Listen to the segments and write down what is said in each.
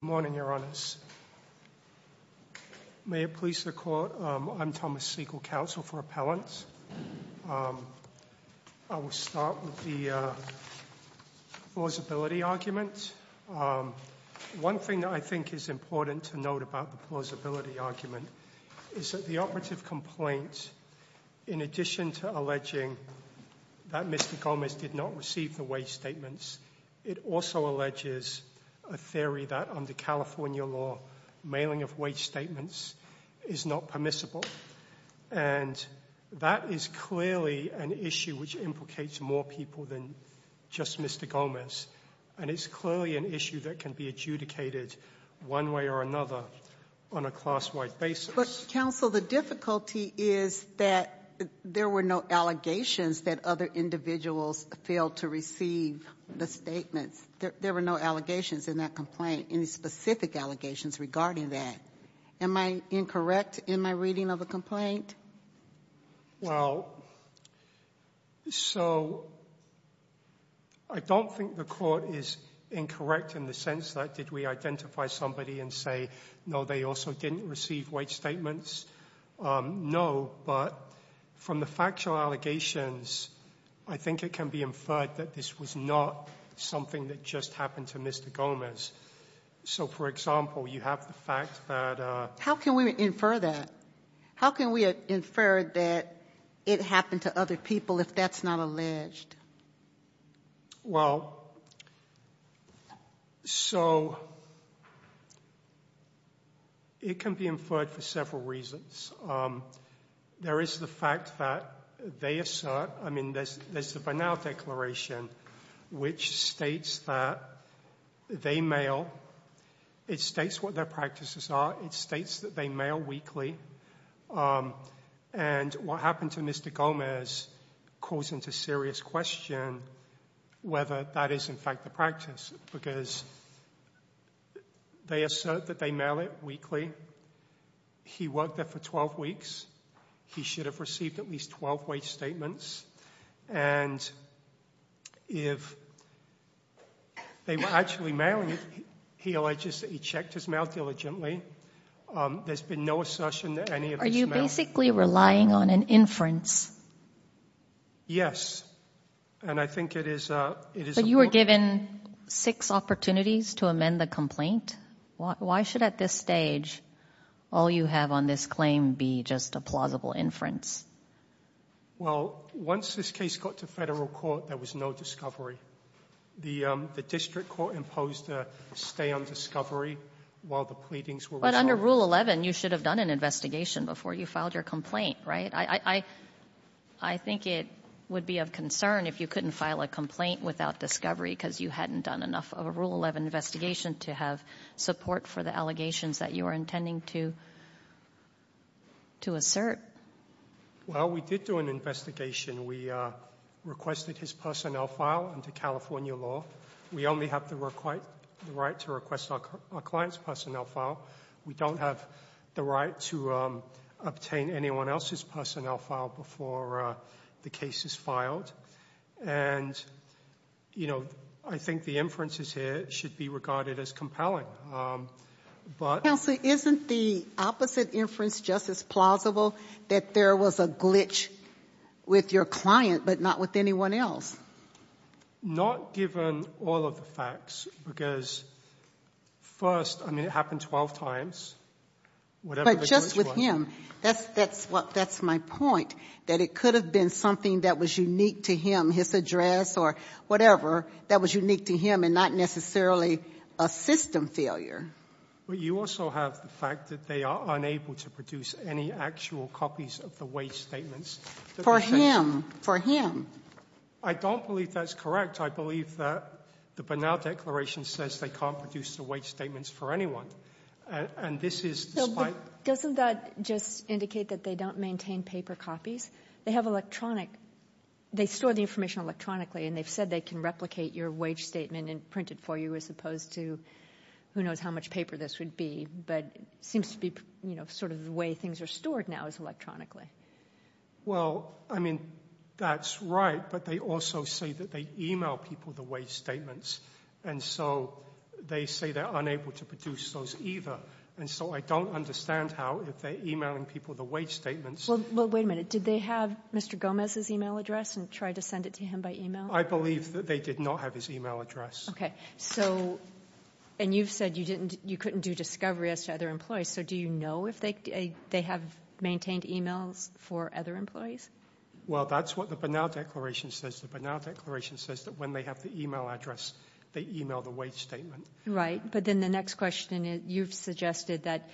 Good morning, Your Honors. May it please the Court, I'm Thomas Siegel, Counsel for Appellants. I will start with the plausibility argument. One thing that I think is important to note about the plausibility argument is that the operative complaint, in addition to alleging that Mr. Gomez did not receive the way statements, it also alleges a theory that, under California law, mailing of way statements is not permissible. And that is clearly an issue which implicates more people than just Mr. Gomez. And it's clearly an issue that can be adjudicated one way or another on a class-wide basis. But, Counsel, the difficulty is that there were no allegations that other individuals failed to receive the statements. There were no allegations in that complaint, any specific allegations regarding that. Am I incorrect in my reading of the complaint? Well, so I don't think the court is incorrect in the sense that did we identify somebody and say, no, they also didn't receive way statements, no. But, from the factual allegations, I think it can be inferred that this was not something that just happened to Mr. Gomez. So, for example, you have the fact that- How can we infer that? How can we infer that it happened to other people if that's not alleged? Well, so, it can be inferred for several reasons. There is the fact that they assert, I mean, there's the Bernal Declaration, which states that they mail, it states what their practices are, it states that they mail weekly, and what happened to Mr. Gomez calls into serious question whether that is, in fact, the practice. Because they assert that they mail it weekly. He worked there for 12 weeks. He should have received at least 12 way statements. And if they were actually mailing it, he alleged that he checked his mail diligently, there's been no assertion that any of this mail- Are you basically relying on an inference? Yes, and I think it is a- But you were given six opportunities to amend the complaint. Why should, at this stage, all you have on this claim be just a plausible inference? Well, once this case got to federal court, there was no discovery. The district court imposed a stay on discovery while the pleadings were resolved. But under Rule 11, you should have done an investigation before you filed your complaint, right? I think it would be of concern if you couldn't file a complaint without discovery, because you hadn't done enough of a Rule 11 investigation to have support for the allegations that you were intending to assert. Well, we did do an investigation. We requested his personnel file under California law. We only have the right to request our client's personnel file. We don't have the right to obtain anyone else's personnel file before the case is filed. And I think the inferences here should be regarded as compelling, but- Counselor, isn't the opposite inference just as plausible, that there was a glitch with your client, but not with anyone else? Not given all of the facts, because first, I mean, it happened 12 times. Whatever the glitch was- But just with him. That's my point, that it could have been something that was unique to him, his address or whatever, that was unique to him and not necessarily a system failure. But you also have the fact that they are unable to produce any actual copies of the wage statements. For him, for him. I don't believe that's correct. I believe that the Bernal Declaration says they can't produce the wage statements for anyone. And this is despite- Doesn't that just indicate that they don't maintain paper copies? They have electronic, they store the information electronically, and they've said they can replicate your wage statement and print it for you as opposed to, who knows how much paper this would be, but seems to be sort of the way things are stored now is electronically. Well, I mean, that's right, but they also say that they email people the wage statements. And so they say they're unable to produce those either. And so I don't understand how, if they're emailing people the wage statements- Well, wait a minute. Did they have Mr. Gomez's email address and try to send it to him by email? I believe that they did not have his email address. Okay, so, and you've said you couldn't do discovery as to other employees, so do you know if they have maintained emails for other employees? Well, that's what the Bernal Declaration says. The Bernal Declaration says that when they have the email address, they email the wage statement. Right, but then the next question is, you've suggested that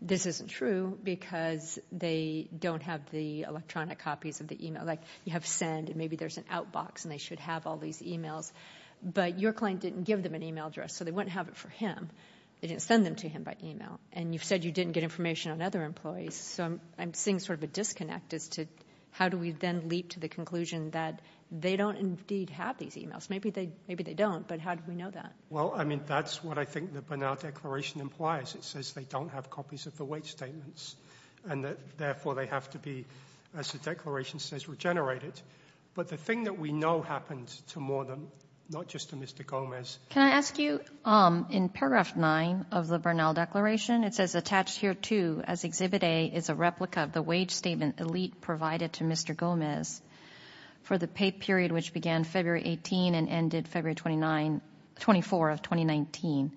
this isn't true, because they don't have the electronic copies of the email. Like, you have send, and maybe there's an outbox, and they should have all these emails. But your client didn't give them an email address, so they wouldn't have it for him. They didn't send them to him by email. And you've said you didn't get information on other employees, so I'm seeing sort of a disconnect as to how do we then leap to the conclusion that they don't indeed have these emails. Maybe they don't, but how do we know that? Well, I mean, that's what I think the Bernal Declaration implies. It says they don't have copies of the wage statements, and that, therefore, they have to be, as the Declaration says, regenerated. But the thing that we know happens to more than, not just to Mr. Gomez. Can I ask you, in paragraph nine of the Bernal Declaration, it says, attached here too, as Exhibit A is a replica of the wage statement Elite provided to Mr. Gomez on October 24th, 2019.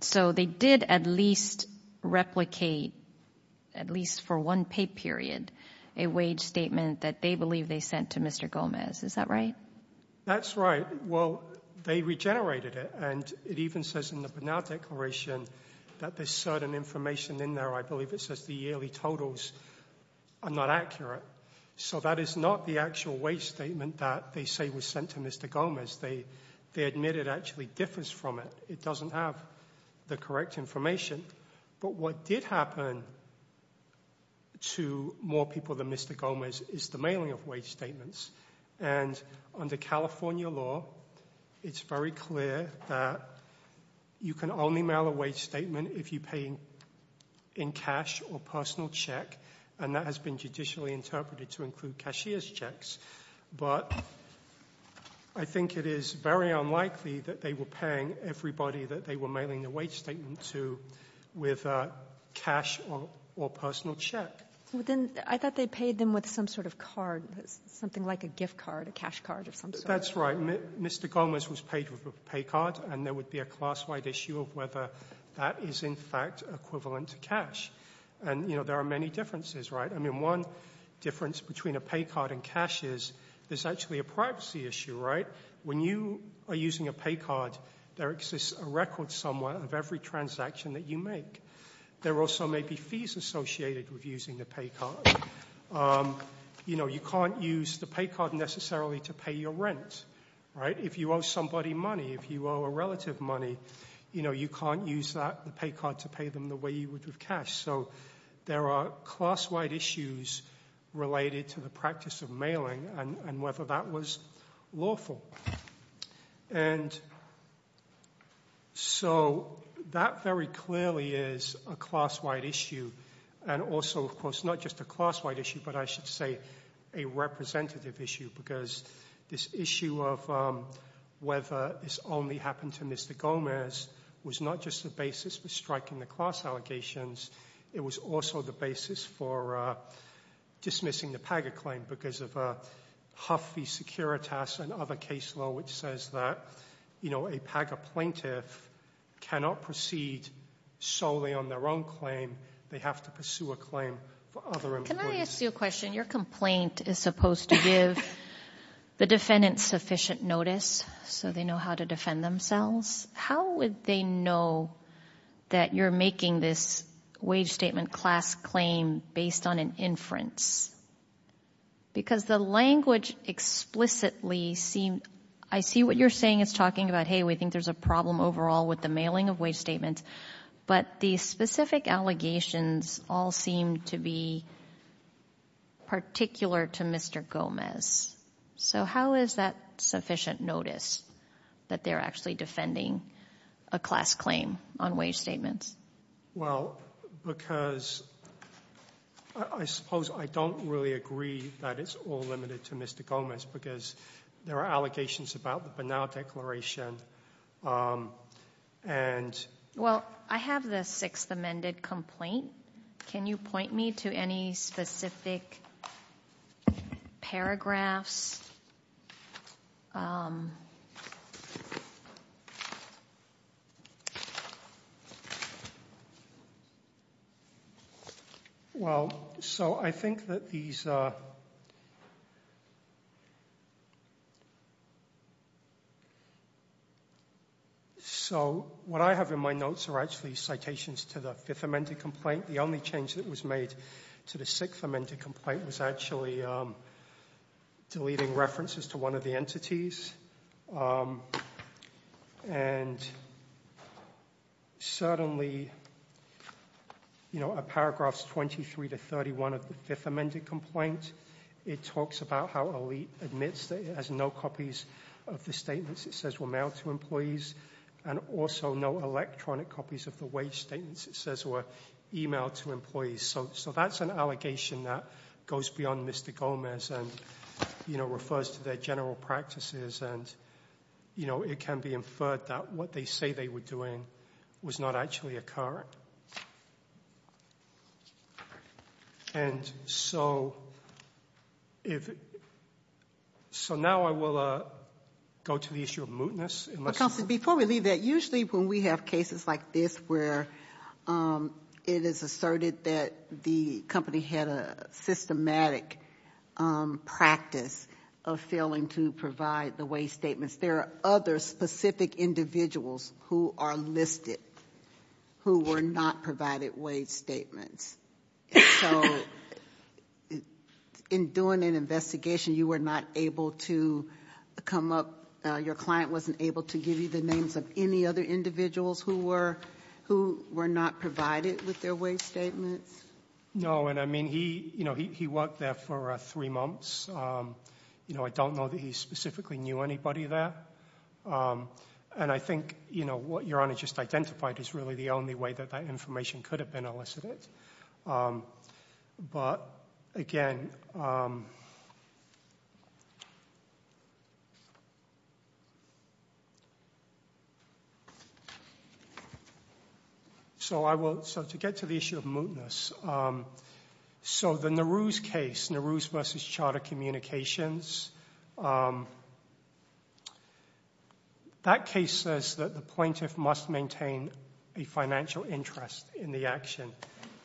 So they did at least replicate, at least for one pay period, a wage statement that they believe they sent to Mr. Gomez. Is that right? That's right. Well, they regenerated it, and it even says in the Bernal Declaration that there's certain information in there. I believe it says the yearly totals are not accurate. So that is not the actual wage statement that they say was sent to Mr. Gomez. They admit it actually differs from it. It doesn't have the correct information. But what did happen to more people than Mr. Gomez is the mailing of wage statements. And under California law, it's very clear that you can only mail a wage statement if you pay in cash or personal check, and that has been judicially interpreted to include cashier's checks. But I think it is very unlikely that they were paying everybody that they were mailing the wage statement to with cash or personal check. I thought they paid them with some sort of card, something like a gift card, a cash card of some sort. That's right, Mr. Gomez was paid with a pay card, and there would be a class-wide issue of whether that is in fact equivalent to cash. And there are many differences, right? I mean, one difference between a pay card and cash is there's actually a privacy issue, right? When you are using a pay card, there exists a record somewhere of every transaction that you make. There also may be fees associated with using the pay card. You can't use the pay card necessarily to pay your rent, right? If you owe somebody money, if you owe a relative money, you can't use that pay card to pay them the way you would with cash. So there are class-wide issues related to the practice of mailing and whether that was lawful. And so that very clearly is a class-wide issue. And also, of course, not just a class-wide issue, but I should say a representative issue. Because this issue of whether this only happened to Mr. Gomez, it was also the basis for dismissing the PAGA claim. Because of a Huffy Securitas and other case law which says that a PAGA plaintiff cannot proceed solely on their own claim, they have to pursue a claim for other employees. Can I ask you a question? Your complaint is supposed to give the defendant sufficient notice so they know how to defend themselves. How would they know that you're making this wage statement class claim based on an inference? Because the language explicitly seemed, I see what you're saying is talking about, hey, we think there's a problem overall with the mailing of wage statements. But the specific allegations all seem to be particular to Mr. Gomez. So how is that sufficient notice that they're actually defending a class claim on wage statements? Well, because I suppose I don't really agree that it's all limited to Mr. Gomez because there are allegations about the Banal Declaration and- Well, I have the sixth amended complaint. Can you point me to any specific paragraphs? Well, so I think that these are, So what I have in my notes are actually citations to the fifth amended complaint. The only change that was made to the sixth amended complaint was actually deleting references to one of the entities. And certainly, a paragraph's 23 to 31 of the fifth amended complaint. It talks about how Elite admits that it has no copies of the statements it says were mailed to employees. And also no electronic copies of the wage statements it says were emailed to employees. So that's an allegation that goes beyond Mr. Gomez and refers to their general practices. And it can be inferred that what they say they were doing was not actually occurring. And so now I will go to the issue of mootness. Because before we leave that, usually when we have cases like this where it is asserted that the company had a systematic practice of failing to provide the wage statements. There are other specific individuals who are listed who were not provided wage statements. So in doing an investigation, you were not able to come up, your client wasn't able to give you the names of any other individuals who were not provided with their wage statements? No, and I mean, he worked there for three months. I don't know that he specifically knew anybody there. And I think what your Honor just identified is really the only way that that information could have been elicited. But again, So to get to the issue of mootness, so the Nehru's case, Nehru's versus Charter Communications, that case says that the plaintiff must maintain a financial interest in the action,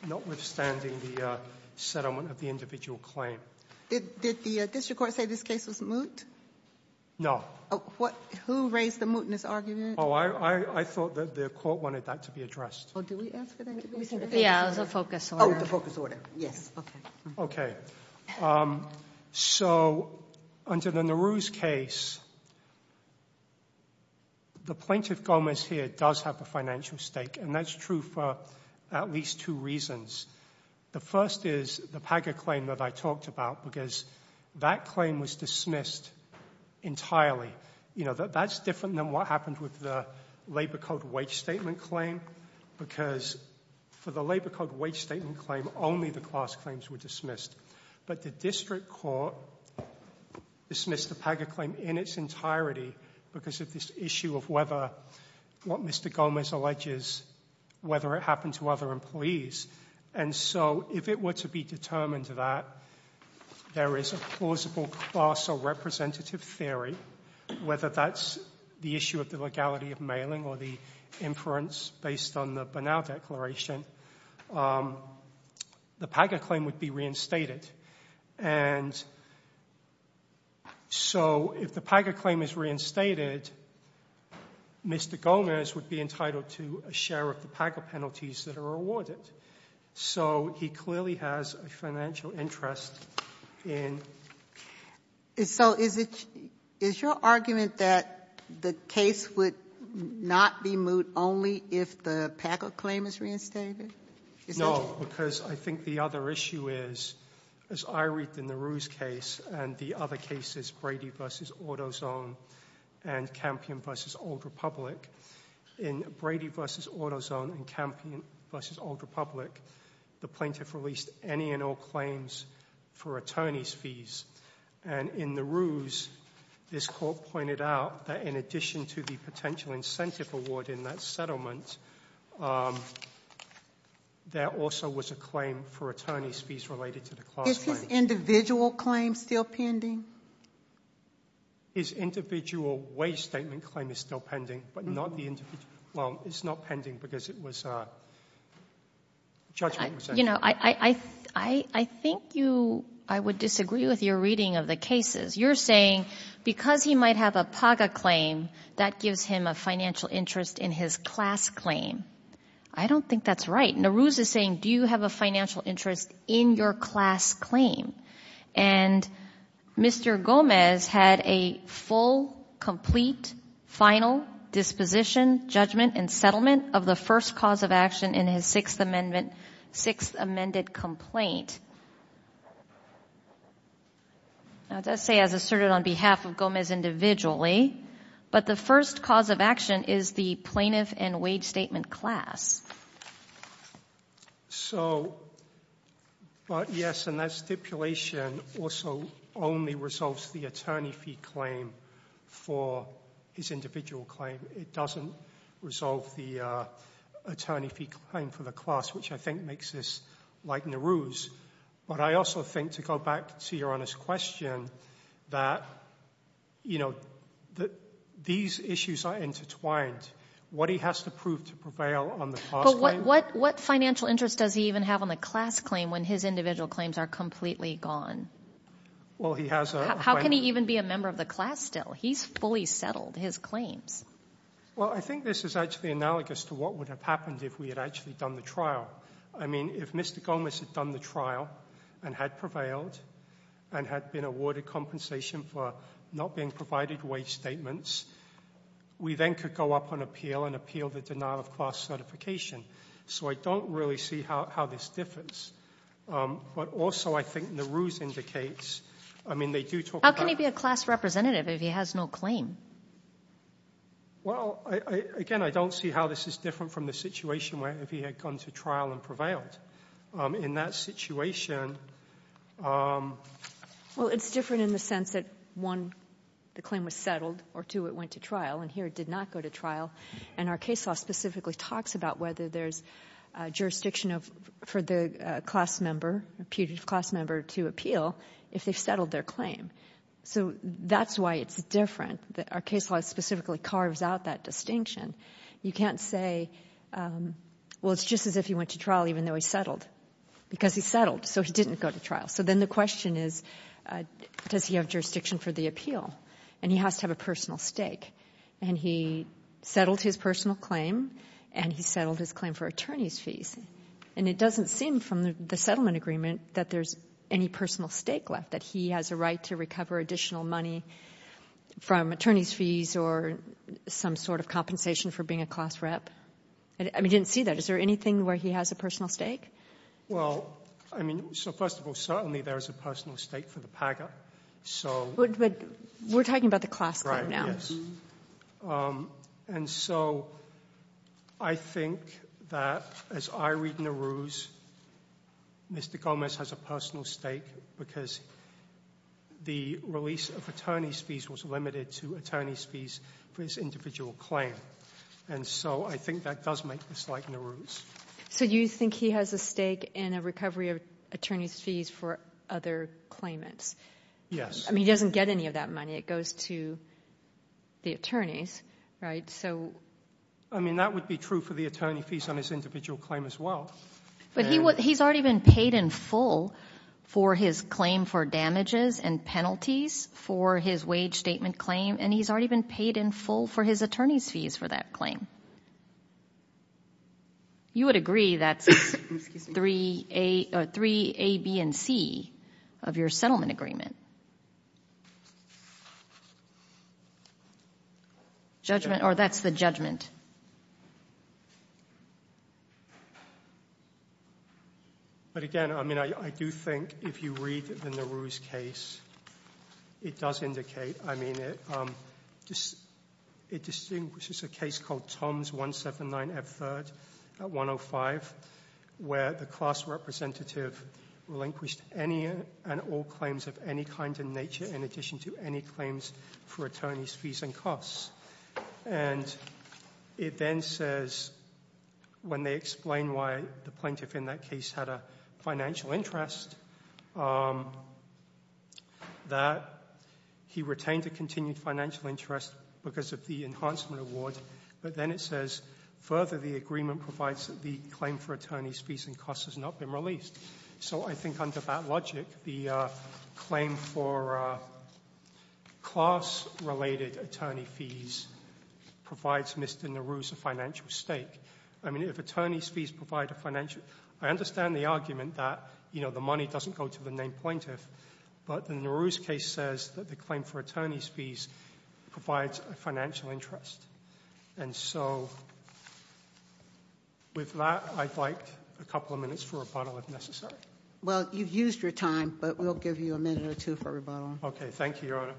notwithstanding the settlement of the individual claim. Did the district court say this case was moot? No. Who raised the mootness argument? I thought that the court wanted that to be addressed. Did we ask for that? Yeah, it was a focus order. The focus order, yes. Okay, so under the Nehru's case, the plaintiff Gomez here does have a financial stake. And that's true for at least two reasons. The first is the Paga claim that I talked about, because that claim was dismissed entirely. That's different than what happened with the labor code wage statement claim, because for the labor code wage statement claim, only the class claims were dismissed. But the district court dismissed the Paga claim in its entirety, because of this issue of whether what Mr. Gomez alleges, whether it happened to other employees. And so if it were to be determined that there is a plausible class or representative theory, whether that's the issue of the legality of mailing or the inference based on the Bernal Declaration, the Paga claim would be reinstated. And so if the Paga claim is reinstated, Mr. Gomez would be entitled to a share of the Paga penalties that are awarded. So he clearly has a financial interest in- So is your argument that the case would not be moved only if the Paga claim is reinstated? No, because I think the other issue is, as I read in the Ruse case and the other cases, Brady versus AutoZone and Campion versus Old Republic. In Brady versus AutoZone and Campion versus Old Republic, the plaintiff released any and all claims for attorney's fees. And in the Ruse, this court pointed out that in addition to the potential incentive award in that settlement, there also was a claim for attorney's fees related to the class claim. Is his individual claim still pending? His individual wage statement claim is still pending, but not the individual. Well, it's not pending because it was a judgment. You know, I think you, I would disagree with your reading of the cases. You're saying, because he might have a Paga claim, that gives him a financial interest in his class claim. I don't think that's right. Now, Ruse is saying, do you have a financial interest in your class claim? And Mr. Gomez had a full, complete, final disposition, judgment, and settlement of the first cause of action in his Sixth Amendment complaint. Now, it does say, as asserted on behalf of Gomez individually, but the first cause of action is the plaintiff and wage statement class. So, but yes, and that stipulation also only resolves the attorney fee claim for his individual claim. It doesn't resolve the attorney fee claim for the class, which I think makes this like the Ruse. But I also think, to go back to your honest question, that these issues are intertwined. What he has to prove to prevail on the class claim. But what financial interest does he even have on the class claim when his individual claims are completely gone? Well, he has a- How can he even be a member of the class still? He's fully settled his claims. Well, I think this is actually analogous to what would have happened if we had actually done the trial. I mean, if Mr. Gomez had done the trial and had prevailed and had been awarded compensation for not being provided wage statements, we then could go up on appeal and appeal the denial of class certification. So I don't really see how this differs. But also, I think the Ruse indicates, I mean, they do talk about- How can he be a class representative if he has no claim? Well, again, I don't see how this is different from the situation where if he had gone to trial and prevailed. In that situation- Well, it's different in the sense that, one, the claim was settled, or two, it went to trial. And here, it did not go to trial. And our case law specifically talks about whether there's jurisdiction for the class member, a putative class member, to appeal if they've settled their claim. So that's why it's different, that our case law specifically carves out that distinction. You can't say, well, it's just as if he went to trial even though he settled. Because he settled, so he didn't go to trial. So then the question is, does he have jurisdiction for the appeal? And he has to have a personal stake. And he settled his personal claim, and he settled his claim for attorney's fees. And it doesn't seem from the settlement agreement that there's any personal stake left, that he has a right to recover additional money from attorney's fees or some sort of compensation for being a class rep. I mean, I didn't see that. Is there anything where he has a personal stake? Well, I mean, so first of all, certainly there is a personal stake for the PGA. So- But we're talking about the class claim now. Right, yes. And so I think that, as I read Nehru's, Mr. Gomez has a personal stake because the release of attorney's fees was limited to attorney's fees for his individual claim. And so I think that does make this like Nehru's. So you think he has a stake in a recovery of attorney's fees for other claimants? Yes. I mean, he doesn't get any of that money. It goes to the attorneys, right? So- I mean, that would be true for the attorney fees on his individual claim as well. But he's already been paid in full for his claim for damages and penalties for his wage statement claim, and he's already been paid in full for his attorney's fees for that claim. You would agree that's three A, B, and C of your settlement agreement. Judgment, or that's the judgment. But again, I mean, I do think if you read the Nehru's case, it does indicate, I mean, it distinguishes a case called Tom's 179F3rd at 105, where the class representative relinquished any and all claims of any kind in nature in addition to any claims for attorney's fees and costs. And it then says, when they explain why the plaintiff in that case had a financial interest, that he retained a continued financial interest because of the enhancement award. But then it says, further, the agreement provides that the claim for attorney's fees and costs has not been released. So I think under that logic, the claim for class-related attorney fees provides Mr. Nehru's a financial stake. I mean, if attorney's fees provide a financial, I understand the argument that the money doesn't go to the named plaintiff. But the Nehru's case says that the claim for attorney's fees provides a financial interest. And so with that, I'd like a couple of minutes for rebuttal if necessary. Well, you've used your time, but we'll give you a minute or two for rebuttal. Okay, thank you, Your Honor.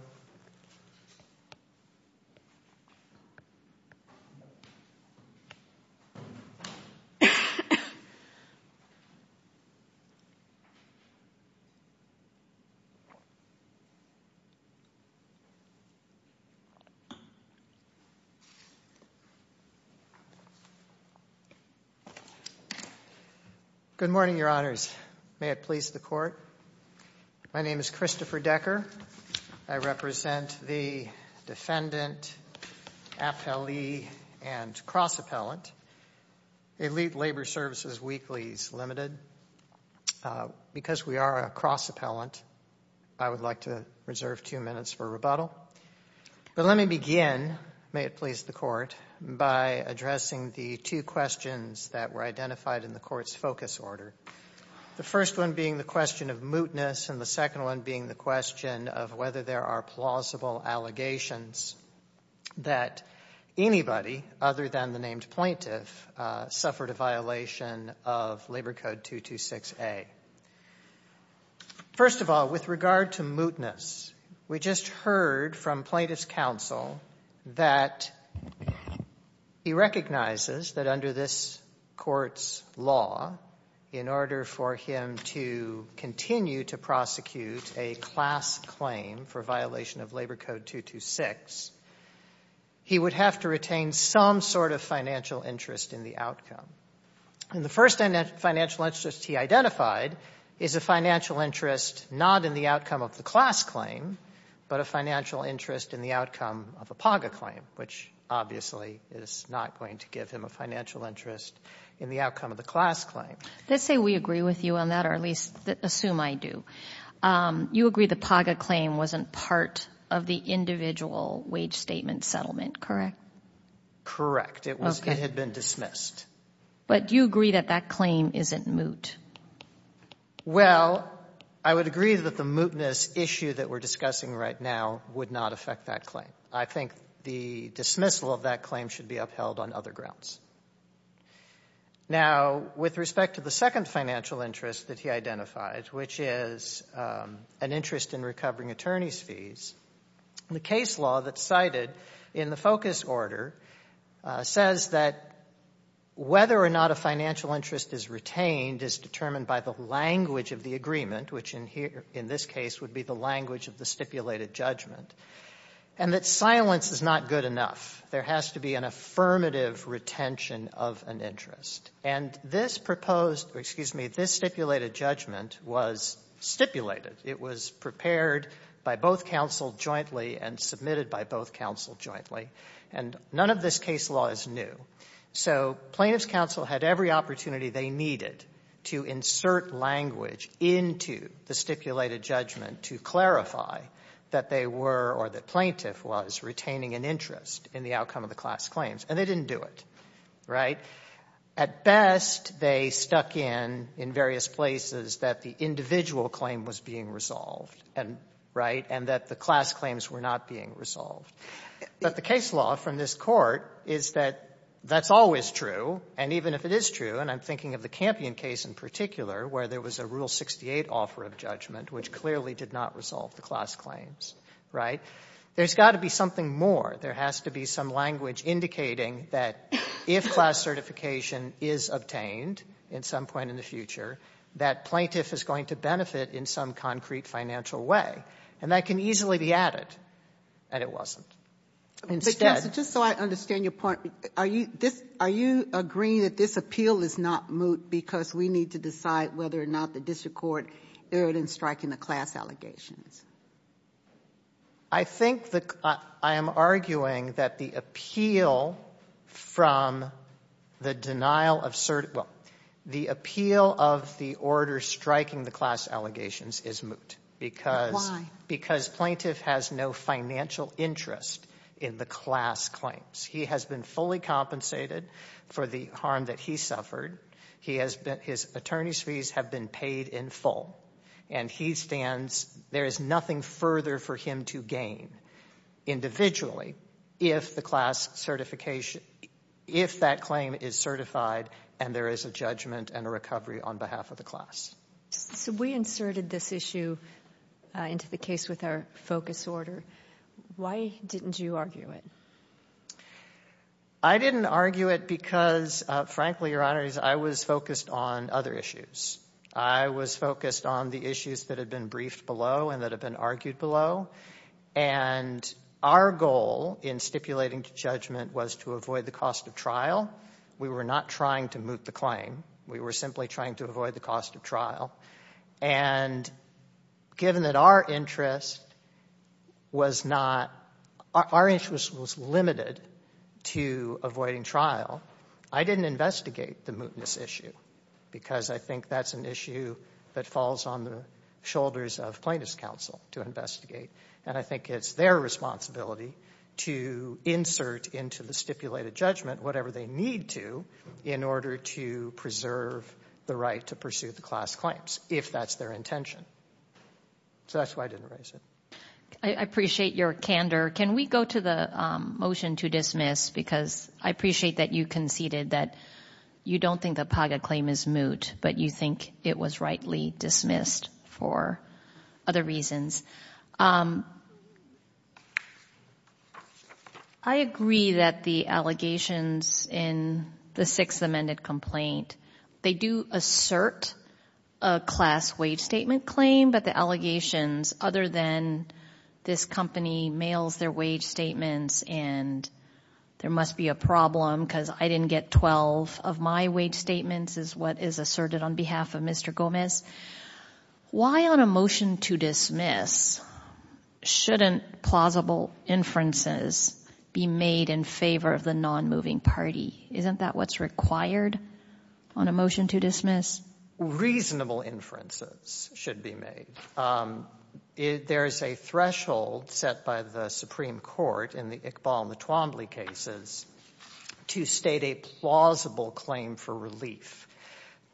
Good morning, Your Honors. May it please the court. My name is Christopher Decker. I represent the defendant, appellee, and cross-appellant. Elite Labor Services Weekly is limited. Because we are a cross-appellant, I would like to reserve two minutes for rebuttal. But let me begin, may it please the court, by addressing the two questions that were identified in the court's focus order. The first one being the question of mootness, and the second one being the question of whether there are plausible allegations that anybody other than the named plaintiff suffered a violation of Labor Code 226A. First of all, with regard to mootness, we just heard from plaintiff's counsel that he recognizes that under this court's law, in order for him to continue to prosecute a class claim for violation of Labor Code 226, he would have to retain some sort of financial interest in the outcome. And the first financial interest he identified is a financial interest not in the outcome of the class claim, but a financial interest in the outcome of a PAGA claim, which obviously is not going to give him a financial interest in the outcome of the class claim. Let's say we agree with you on that, or at least assume I do. You agree the PAGA claim wasn't part of the individual wage statement settlement, correct? Correct. It had been dismissed. But do you agree that that claim isn't moot? Well, I would agree that the mootness issue that we're discussing right now would not affect that claim. I think the dismissal of that claim should be upheld on other grounds. Now, with respect to the second financial interest that he identified, which is an interest in recovering attorney's fees, the case law that's cited in the focus order says that whether or not a financial interest is retained is determined by the language of the agreement, which in this case would be the language of the stipulated judgment, and that silence is not good enough. There has to be an affirmative retention of an interest. And this stipulated judgment was stipulated. It was prepared by both counsel jointly and submitted by both counsel jointly, and none of this case law is new. So plaintiff's counsel had every opportunity they needed to insert language into the stipulated judgment to clarify that they were or that plaintiff was retaining an interest in the outcome of the class claims, and they didn't do it, right? At best, they stuck in in various places that the individual claim was being resolved, right, and that the class claims were not being resolved. But the case law from this Court is that that's always true, and even if it is true, and I'm thinking of the Campion case in particular, where there was a Rule 68 offer of judgment, which clearly did not resolve the class claims, right, there's got to be something more. There has to be some language indicating that if class certification is obtained at some point in the future, that plaintiff is going to benefit in some concrete financial way, and that can easily be added, and it wasn't. But just so I understand your point, are you agreeing that this appeal is not moot because we need to decide whether or not the District Court erred in striking the class allegations? I think that I am arguing that the appeal from the denial of certain, well, the appeal of the order striking the class allegations is moot. Why? Because plaintiff has no financial interest in the class claims. He has been fully compensated for the harm that he suffered. He has been, his attorney's fees have been paid in full, and he stands, there is nothing further for him to gain individually if the class certification, if that claim is certified and there is a judgment and a recovery on behalf of the class. So we inserted this issue into the case with our focus order. Why didn't you argue it? I didn't argue it because, frankly, Your Honor, I was focused on other issues. I was focused on the issues that had been briefed below and that had been argued below, and our goal in stipulating the judgment was to avoid the cost of trial. We were not trying to moot the claim. We were simply trying to avoid the cost of trial. And given that our interest was not, our interest was limited to avoiding trial, I didn't investigate the mootness issue because I think that's an issue that falls on the shoulders of plaintiff's counsel to investigate, and I think it's their responsibility to insert into the stipulated judgment whatever they need to in order to preserve the right to pursue the class if that's their intention. So that's why I didn't raise it. I appreciate your candor. Can we go to the motion to dismiss? Because I appreciate that you conceded that you don't think the Paga claim is moot, but you think it was rightly dismissed for other reasons. I agree that the allegations in the Sixth Amendment complaint, they do assert a class wage statement claim, but the allegations other than this company mails their wage statements and there must be a problem because I didn't get 12 of my wage statements is what is asserted on behalf of Mr. Gomez. Why on a motion to dismiss shouldn't plausible inferences be made in favor of the non-moving party? Isn't that what's required on a motion to dismiss? Reasonable inferences should be made. There's a threshold set by the Supreme Court in the Iqbal and the Twombly cases to state a plausible claim for relief.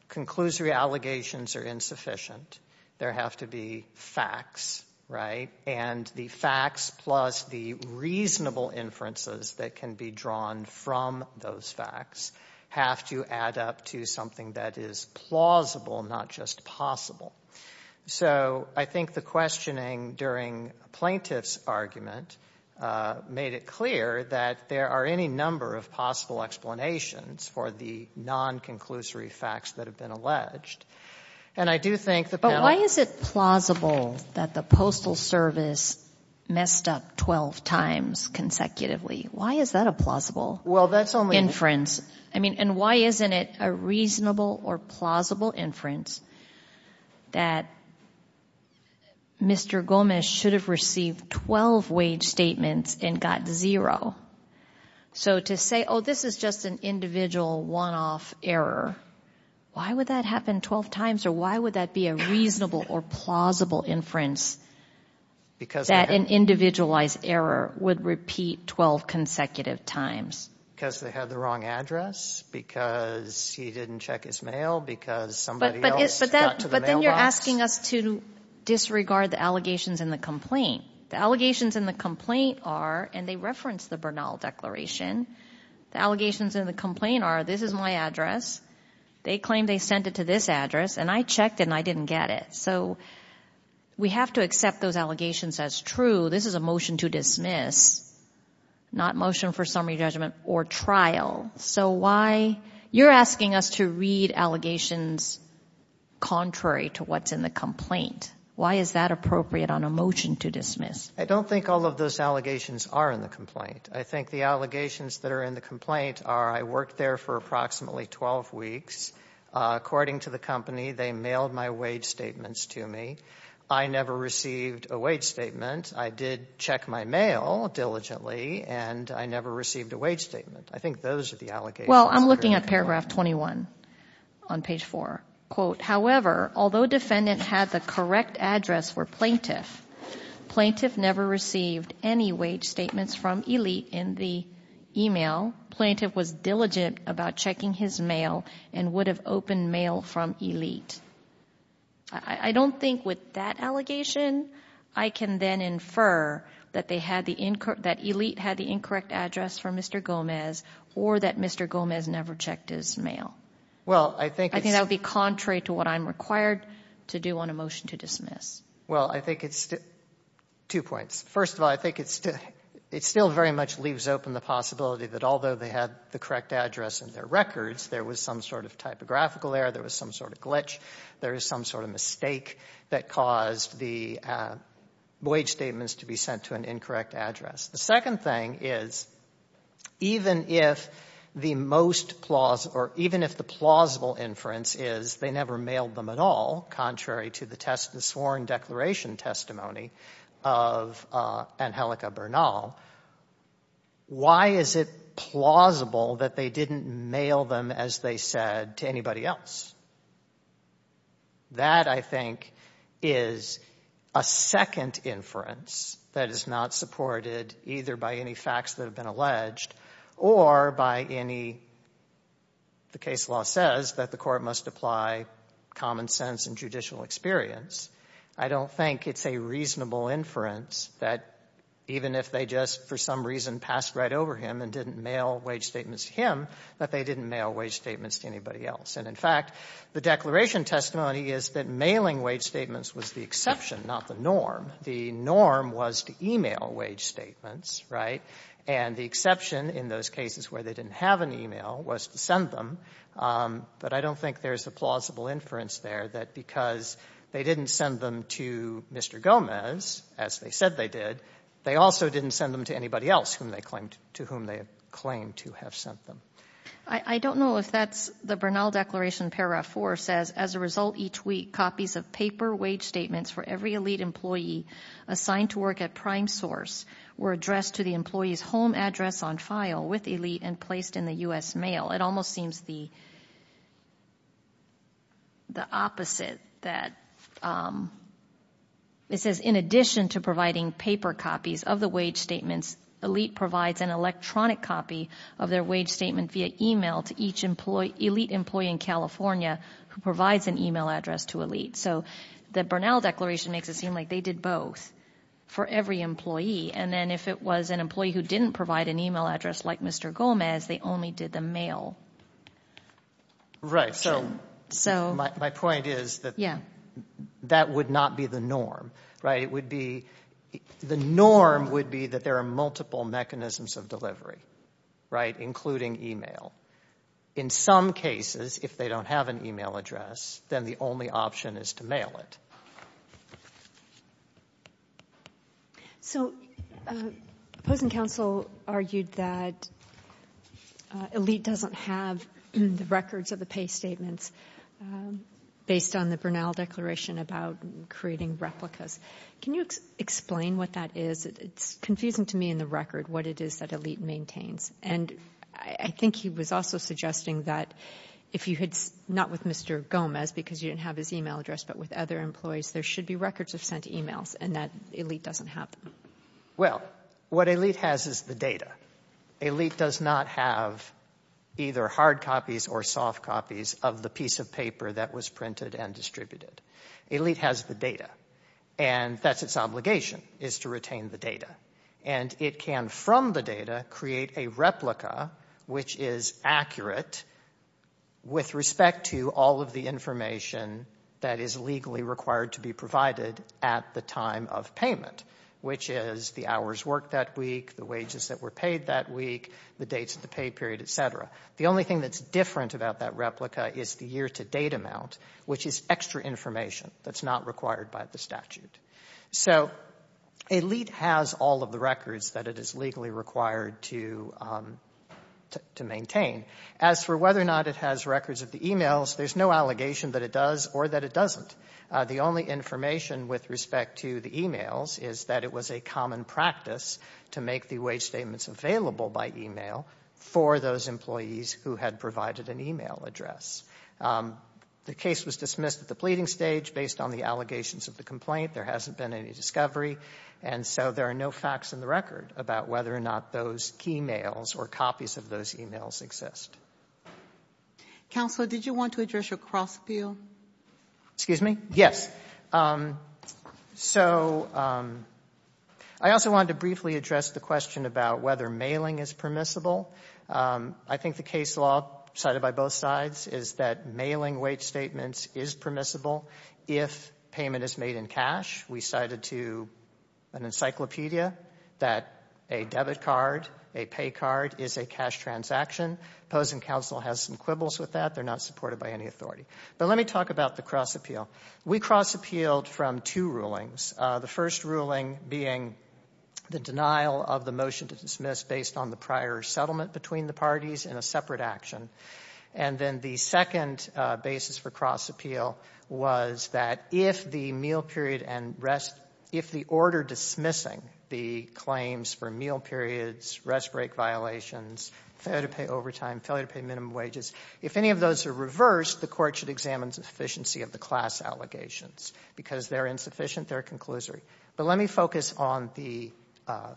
Conclusory allegations are insufficient. There have to be facts, right? The facts plus the reasonable inferences that can be drawn from those facts have to add up to something that is plausible, not just possible. I think the questioning during plaintiff's argument made it clear that there are any number of possible explanations for the non-conclusory facts that have been alleged. And I do think the panel... But why is it plausible that the Postal Service messed up 12 times consecutively? Why is that a plausible inference? And why isn't it a reasonable or plausible inference that Mr. Gomez should have received 12 wage statements and got zero? So to say, oh, this is just an individual one-off error. Why would that happen 12 times? Or why would that be a reasonable or plausible inference that an individualized error would repeat 12 consecutive times? Because they had the wrong address? Because he didn't check his mail? Because somebody else got to the mailbox? But then you're asking us to disregard the allegations in the complaint. The allegations in the complaint are, and they reference the Bernal Declaration, the allegations in the complaint are, this is my address, they claim they sent it to this address, and I checked and I didn't get it. So we have to accept those allegations as true. This is a motion to dismiss, not motion for summary judgment or trial. So why... You're asking us to read allegations contrary to what's in the complaint. Why is that appropriate on a motion to dismiss? I don't think all of those allegations are in the complaint. I think the allegations that are in the complaint are, I worked there for approximately 12 weeks. According to the company, they mailed my wage statements to me. I never received a wage statement. I did check my mail diligently, and I never received a wage statement. I think those are the allegations. Well, I'm looking at paragraph 21 on page 4. Quote, however, although defendant had the correct address for plaintiff, plaintiff never received any wage statements from Elite in the email. Plaintiff was diligent about checking his mail and would have opened mail from Elite. I don't think with that allegation, I can then infer that Elite had the incorrect address for Mr. Gomez or that Mr. Gomez never checked his mail. Well, I think it's... I think that would be contrary to what I'm required to do on a motion to dismiss. Well, I think it's... Two points. First of all, I think it still very much leaves open the possibility that although they had the correct address in their records, there was some sort of typographical error. There was some sort of glitch. There is some sort of mistake that caused the wage statements to be sent to an incorrect address. The second thing is, even if the most plausible, or even if the plausible inference is they never mailed them at all, contrary to the sworn declaration testimony of Angelica Bernal, why is it plausible that they didn't mail them as they said to anybody else? That, I think, is a second inference that is not supported either by any facts that have been alleged or by any... ...the case law says that the court must apply common sense and judicial experience. I don't think it's a reasonable inference that even if they just, for some reason, passed right over him and didn't mail wage statements to him, that they didn't mail wage statements to anybody else. And in fact, the declaration testimony is that mailing wage statements was the exception, not the norm. The norm was to email wage statements, right? And the exception in those cases where they didn't have an email was to send them. But I don't think there's a plausible inference there that because they didn't send them to Mr. Gomez, as they said they did, they also didn't send them to anybody else to whom they claimed to have sent them. I don't know if that's the Bernal Declaration, Paragraph 4 says, as a result, each week copies of paper wage statements for every elite employee assigned to work at PrimeSource were addressed to the employee's home address on file with elite and placed in the U.S. mail. It almost seems the opposite that... It says, in addition to providing paper copies of the wage statements, elite provides an electronic copy of their wage statement via email to each elite employee in California who provides an email address to elite. So the Bernal Declaration makes it seem like they did both for every employee. And then if it was an employee who didn't provide an email address like Mr. Gomez, they only did the mail. Right. So my point is that that would not be the norm, right? The norm would be that there are multiple mechanisms of delivery, right? Including email. In some cases, if they don't have an email address, then the only option is to mail it. So opposing counsel argued that elite doesn't have the records of the pay statements based on the Bernal Declaration about creating replicas. Can you explain what that is? It's confusing to me in the record what it is that elite maintains. And I think he was also suggesting that if you had... Not with Mr. Gomez, because you didn't have his email address, but with other employees, there should be records of sent emails, and that elite doesn't have them. Well, what elite has is the data. Elite does not have either hard copies or soft copies of the piece of paper that was printed and distributed. Elite has the data. And that's its obligation, is to retain the data. And it can, from the data, create a replica which is accurate with respect to all of the information that is legally required to be provided at the time of payment, which is the hours worked that week, the wages that were paid that week, the dates of the pay period, et cetera. The only thing that's different about that replica is the year-to-date amount, which is extra information that's not required by the statute. So elite has all of the records that it is legally required to maintain. As for whether or not it has records of the emails, there's no allegation that it does or that it doesn't. The only information with respect to the emails is that it was a common practice to make the wage statements available by email for those employees who had provided an email address. The case was dismissed at the pleading stage based on the allegations of the complaint. There hasn't been any discovery. And so there are no facts in the record about whether or not those key mails or copies of those emails exist. Counselor, did you want to address your cross-appeal? Excuse me? Yes. So I also wanted to briefly address the question about whether mailing is permissible. I think the case law, cited by both sides, is that mailing wage statements is permissible if payment is made in cash. We cited to an encyclopedia that a debit card, a pay card, is a cash transaction. Opposing counsel has some quibbles with that. They're not supported by any authority. But let me talk about the cross-appeal. We cross-appealed from two rulings. The first ruling being the denial of the motion to dismiss based on the prior settlement between the parties in a separate action. And then the second basis for cross-appeal was that if the meal period and rest, if the order dismissing the claims for meal periods, rest break violations, failure to pay overtime, failure to pay minimum wages, if any of those are reversed, the court should examine the sufficiency of the class allegations. Because they're insufficient, they're a conclusory. But let me focus on the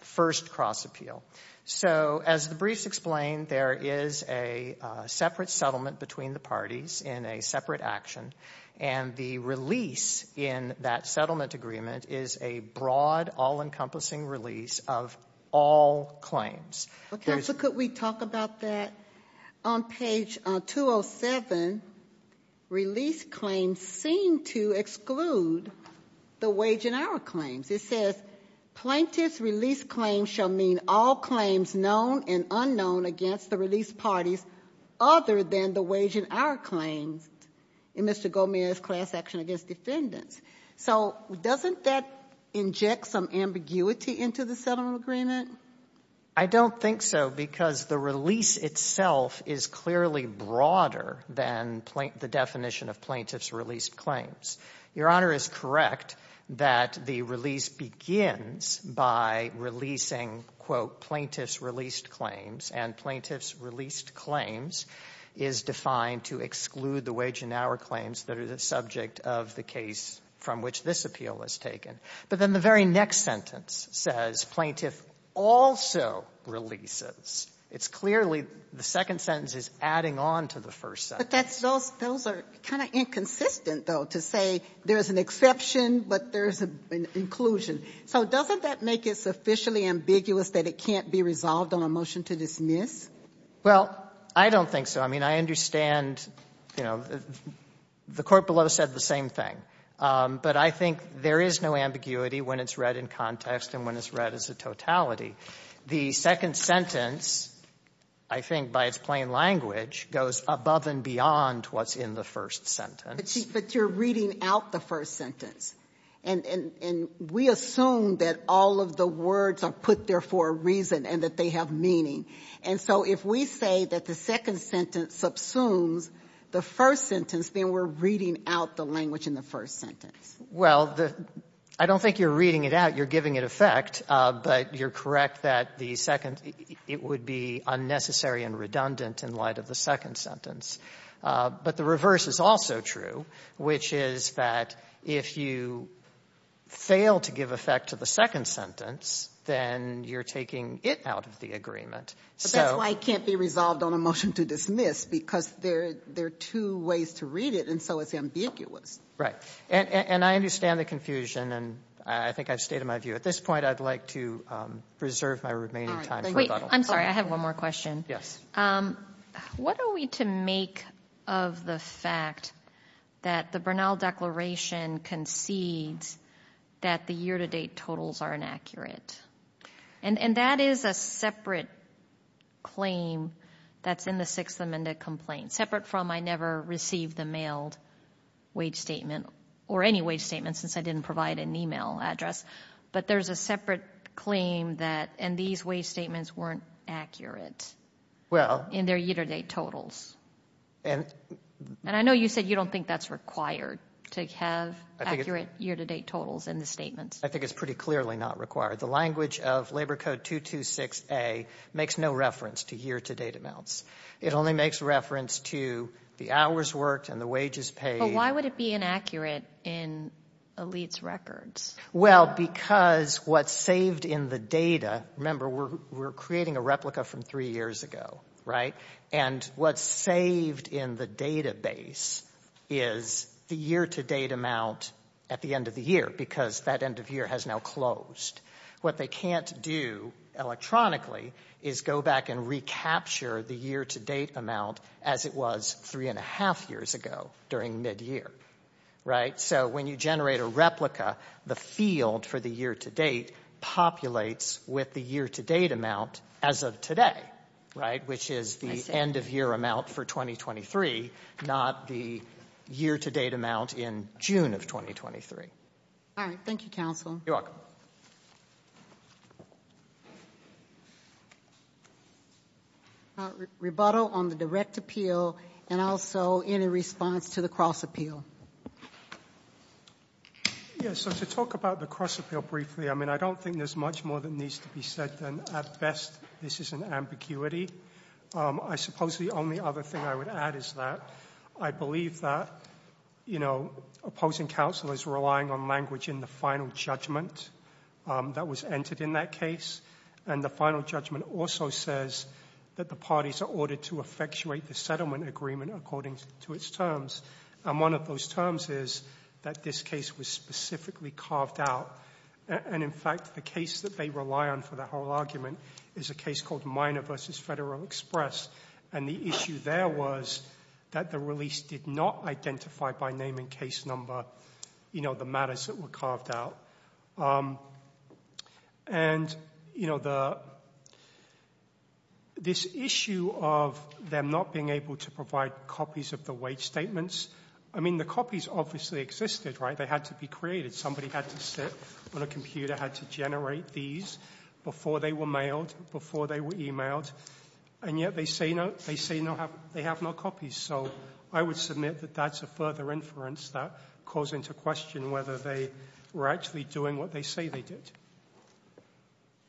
first cross-appeal. So as the briefs explain, there is a separate settlement between the parties in a separate action. And the release in that settlement agreement is a broad, all-encompassing release of all claims. Counsel, could we talk about that? On page 207, release claims seem to exclude the wage and hour claims. It says, plaintiff's release claims shall mean all claims known and unknown against the release parties other than the wage and hour claims in Mr. Gomez's class action against defendants. So doesn't that inject some ambiguity into the settlement agreement? I don't think so because the release itself is clearly broader than the definition of plaintiff's release claims. Your Honor is correct that the release begins by releasing, quote, plaintiff's released claims. And plaintiff's released claims is defined to exclude the wage and hour claims that are the subject of the case from which this appeal was taken. But then the very next sentence says, plaintiff also releases. It's clearly, the second sentence is adding on to the first sentence. Those are kind of inconsistent, though, to say there's an exception but there's an inclusion. So doesn't that make it sufficiently ambiguous that it can't be resolved on a motion to dismiss? Well, I don't think so. I mean, I understand, you know, the court below said the same thing. But I think there is no ambiguity when it's read in context and when it's read as a totality. The second sentence, I think by its plain language, goes above and beyond what's in the first sentence. But you're reading out the first sentence. And we assume that all of the words are put there for a reason and that they have meaning. And so if we say that the second sentence subsumes the first sentence, then we're reading out the language in the first sentence. Well, I don't think you're reading it out. You're giving it effect. But you're correct that it would be unnecessary and redundant in light of the second sentence. But the reverse is also true, which is that if you fail to give effect to the second sentence, then you're taking it out of the agreement. But that's why it can't be resolved on a motion to dismiss, because there are two ways to read it. And so it's ambiguous. Right. And I understand the confusion. And I think I've stated my view. At this point, I'd like to preserve my remaining time. Wait, I'm sorry. I have one more question. What are we to make of the fact that the Bernal Declaration concedes that the year-to-date totals are inaccurate? And that is a separate claim that's in the Sixth Amendment complaint, separate from I never received the mailed wage statement or any wage statement since I didn't provide an email address. But there's a separate claim that these wage statements weren't accurate in their year-to-date totals. And I know you said you don't think that's required to have accurate year-to-date totals in the statements. I think it's pretty clearly not required. The language of Labor Code 226A makes no reference to year-to-date amounts. It only makes reference to the hours worked and the wages paid. But why would it be inaccurate in elites' records? Well, because what's saved in the data... Remember, we're creating a replica from three years ago, right? And what's saved in the database is the year-to-date amount at the end of the year because that end of year has now closed. What they can't do electronically is go back and recapture the year-to-date amount as it was three and a half years ago during mid-year, right? So when you generate a replica, the field for the year-to-date populates with the year-to-date amount as of today, right? Which is the end-of-year amount for 2023, not the year-to-date amount in June of 2023. All right. Thank you, counsel. You're welcome. Rebuttal on the direct appeal and also any response to the cross-appeal. Yeah, so to talk about the cross-appeal briefly, I mean, I don't think there's much more that needs to be said than, at best, this is an ambiguity. I suppose the only other thing I would add is that I believe that, you know, opposing counsel is relying on language in the final judgment that was entered in that case. And the final judgment also says that the parties are ordered to effectuate the settlement agreement according to its terms. And one of those terms is that this case was specifically carved out. And, in fact, the case that they rely on for the whole argument is a case called Minor v. Federal Express. And the issue there was that the release did not identify, by name and case number, you know, the matters that were carved out. And, you know, this issue of them not being able to provide copies of the wage statements, I mean, the copies obviously existed, right? They had to be created. Somebody had to sit on a computer, had to generate these before they were mailed, before they were emailed. And yet they say they have no copies. So I would submit that that's a further inference that calls into question whether they were actually doing what they say they did.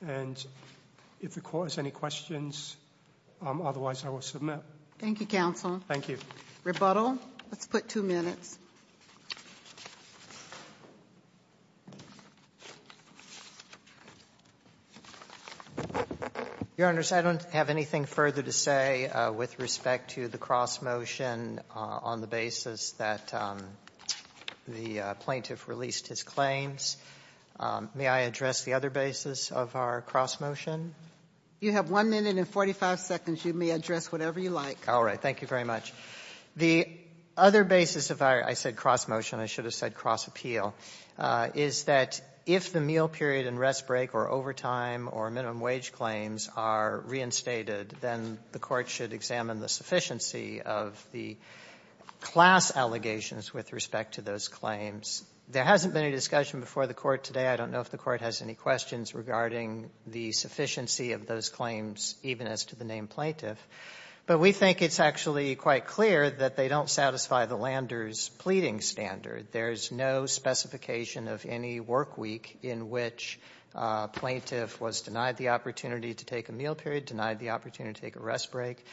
And if the Court has any questions, otherwise I will submit. Thank you, counsel. Thank you. Rebuttal. Let's put two minutes. Your Honors, I don't have anything further to say with respect to the cross-motion on the basis that the plaintiff released his claims. May I address the other basis of our cross-motion? You have 1 minute and 45 seconds. You may address whatever you like. Thank you very much. The other basis of our, I said cross-motion. I should have said cross-appeal, is that if the meal period and rest break or overtime or minimum wage claims are reinstated, then the Court should examine the sufficiency of the class allegations with respect to those claims. There hasn't been any discussion before the Court today. I don't know if the Court has any questions regarding the sufficiency of those claims, even as to the name plaintiff. But we think it's actually quite clear that they don't satisfy the lander's pleading standard. There's no specification of any work week in which a plaintiff was denied the opportunity to take a meal period, denied the opportunity to take a rest break,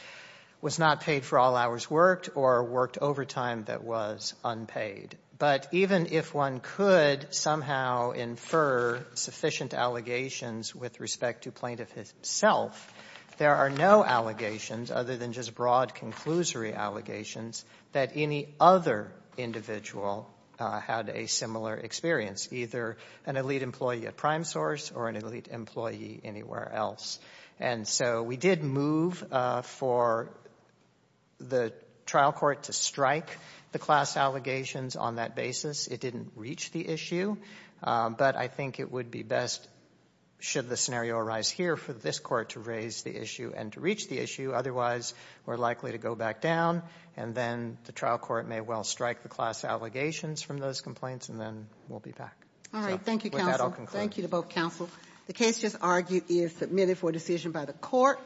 was not paid for all hours worked, or worked overtime that was unpaid. But even if one could somehow infer sufficient allegations with respect to plaintiff himself, there are no allegations other than just broad conclusory allegations that any other individual had a similar experience, either an elite employee at PrimeSource or an elite employee anywhere else. And so we did move for the trial court to strike the class allegations on that basis. It didn't reach the issue. But I think it would be best, should the scenario arise here, for this Court to raise the issue and to reach the issue. Otherwise, we're likely to go back down. And then the trial court may well strike the class allegations from those complaints. And then we'll be back. All right. Thank you, counsel. Thank you to both counsel. The case just argued is submitted for decision by the Court.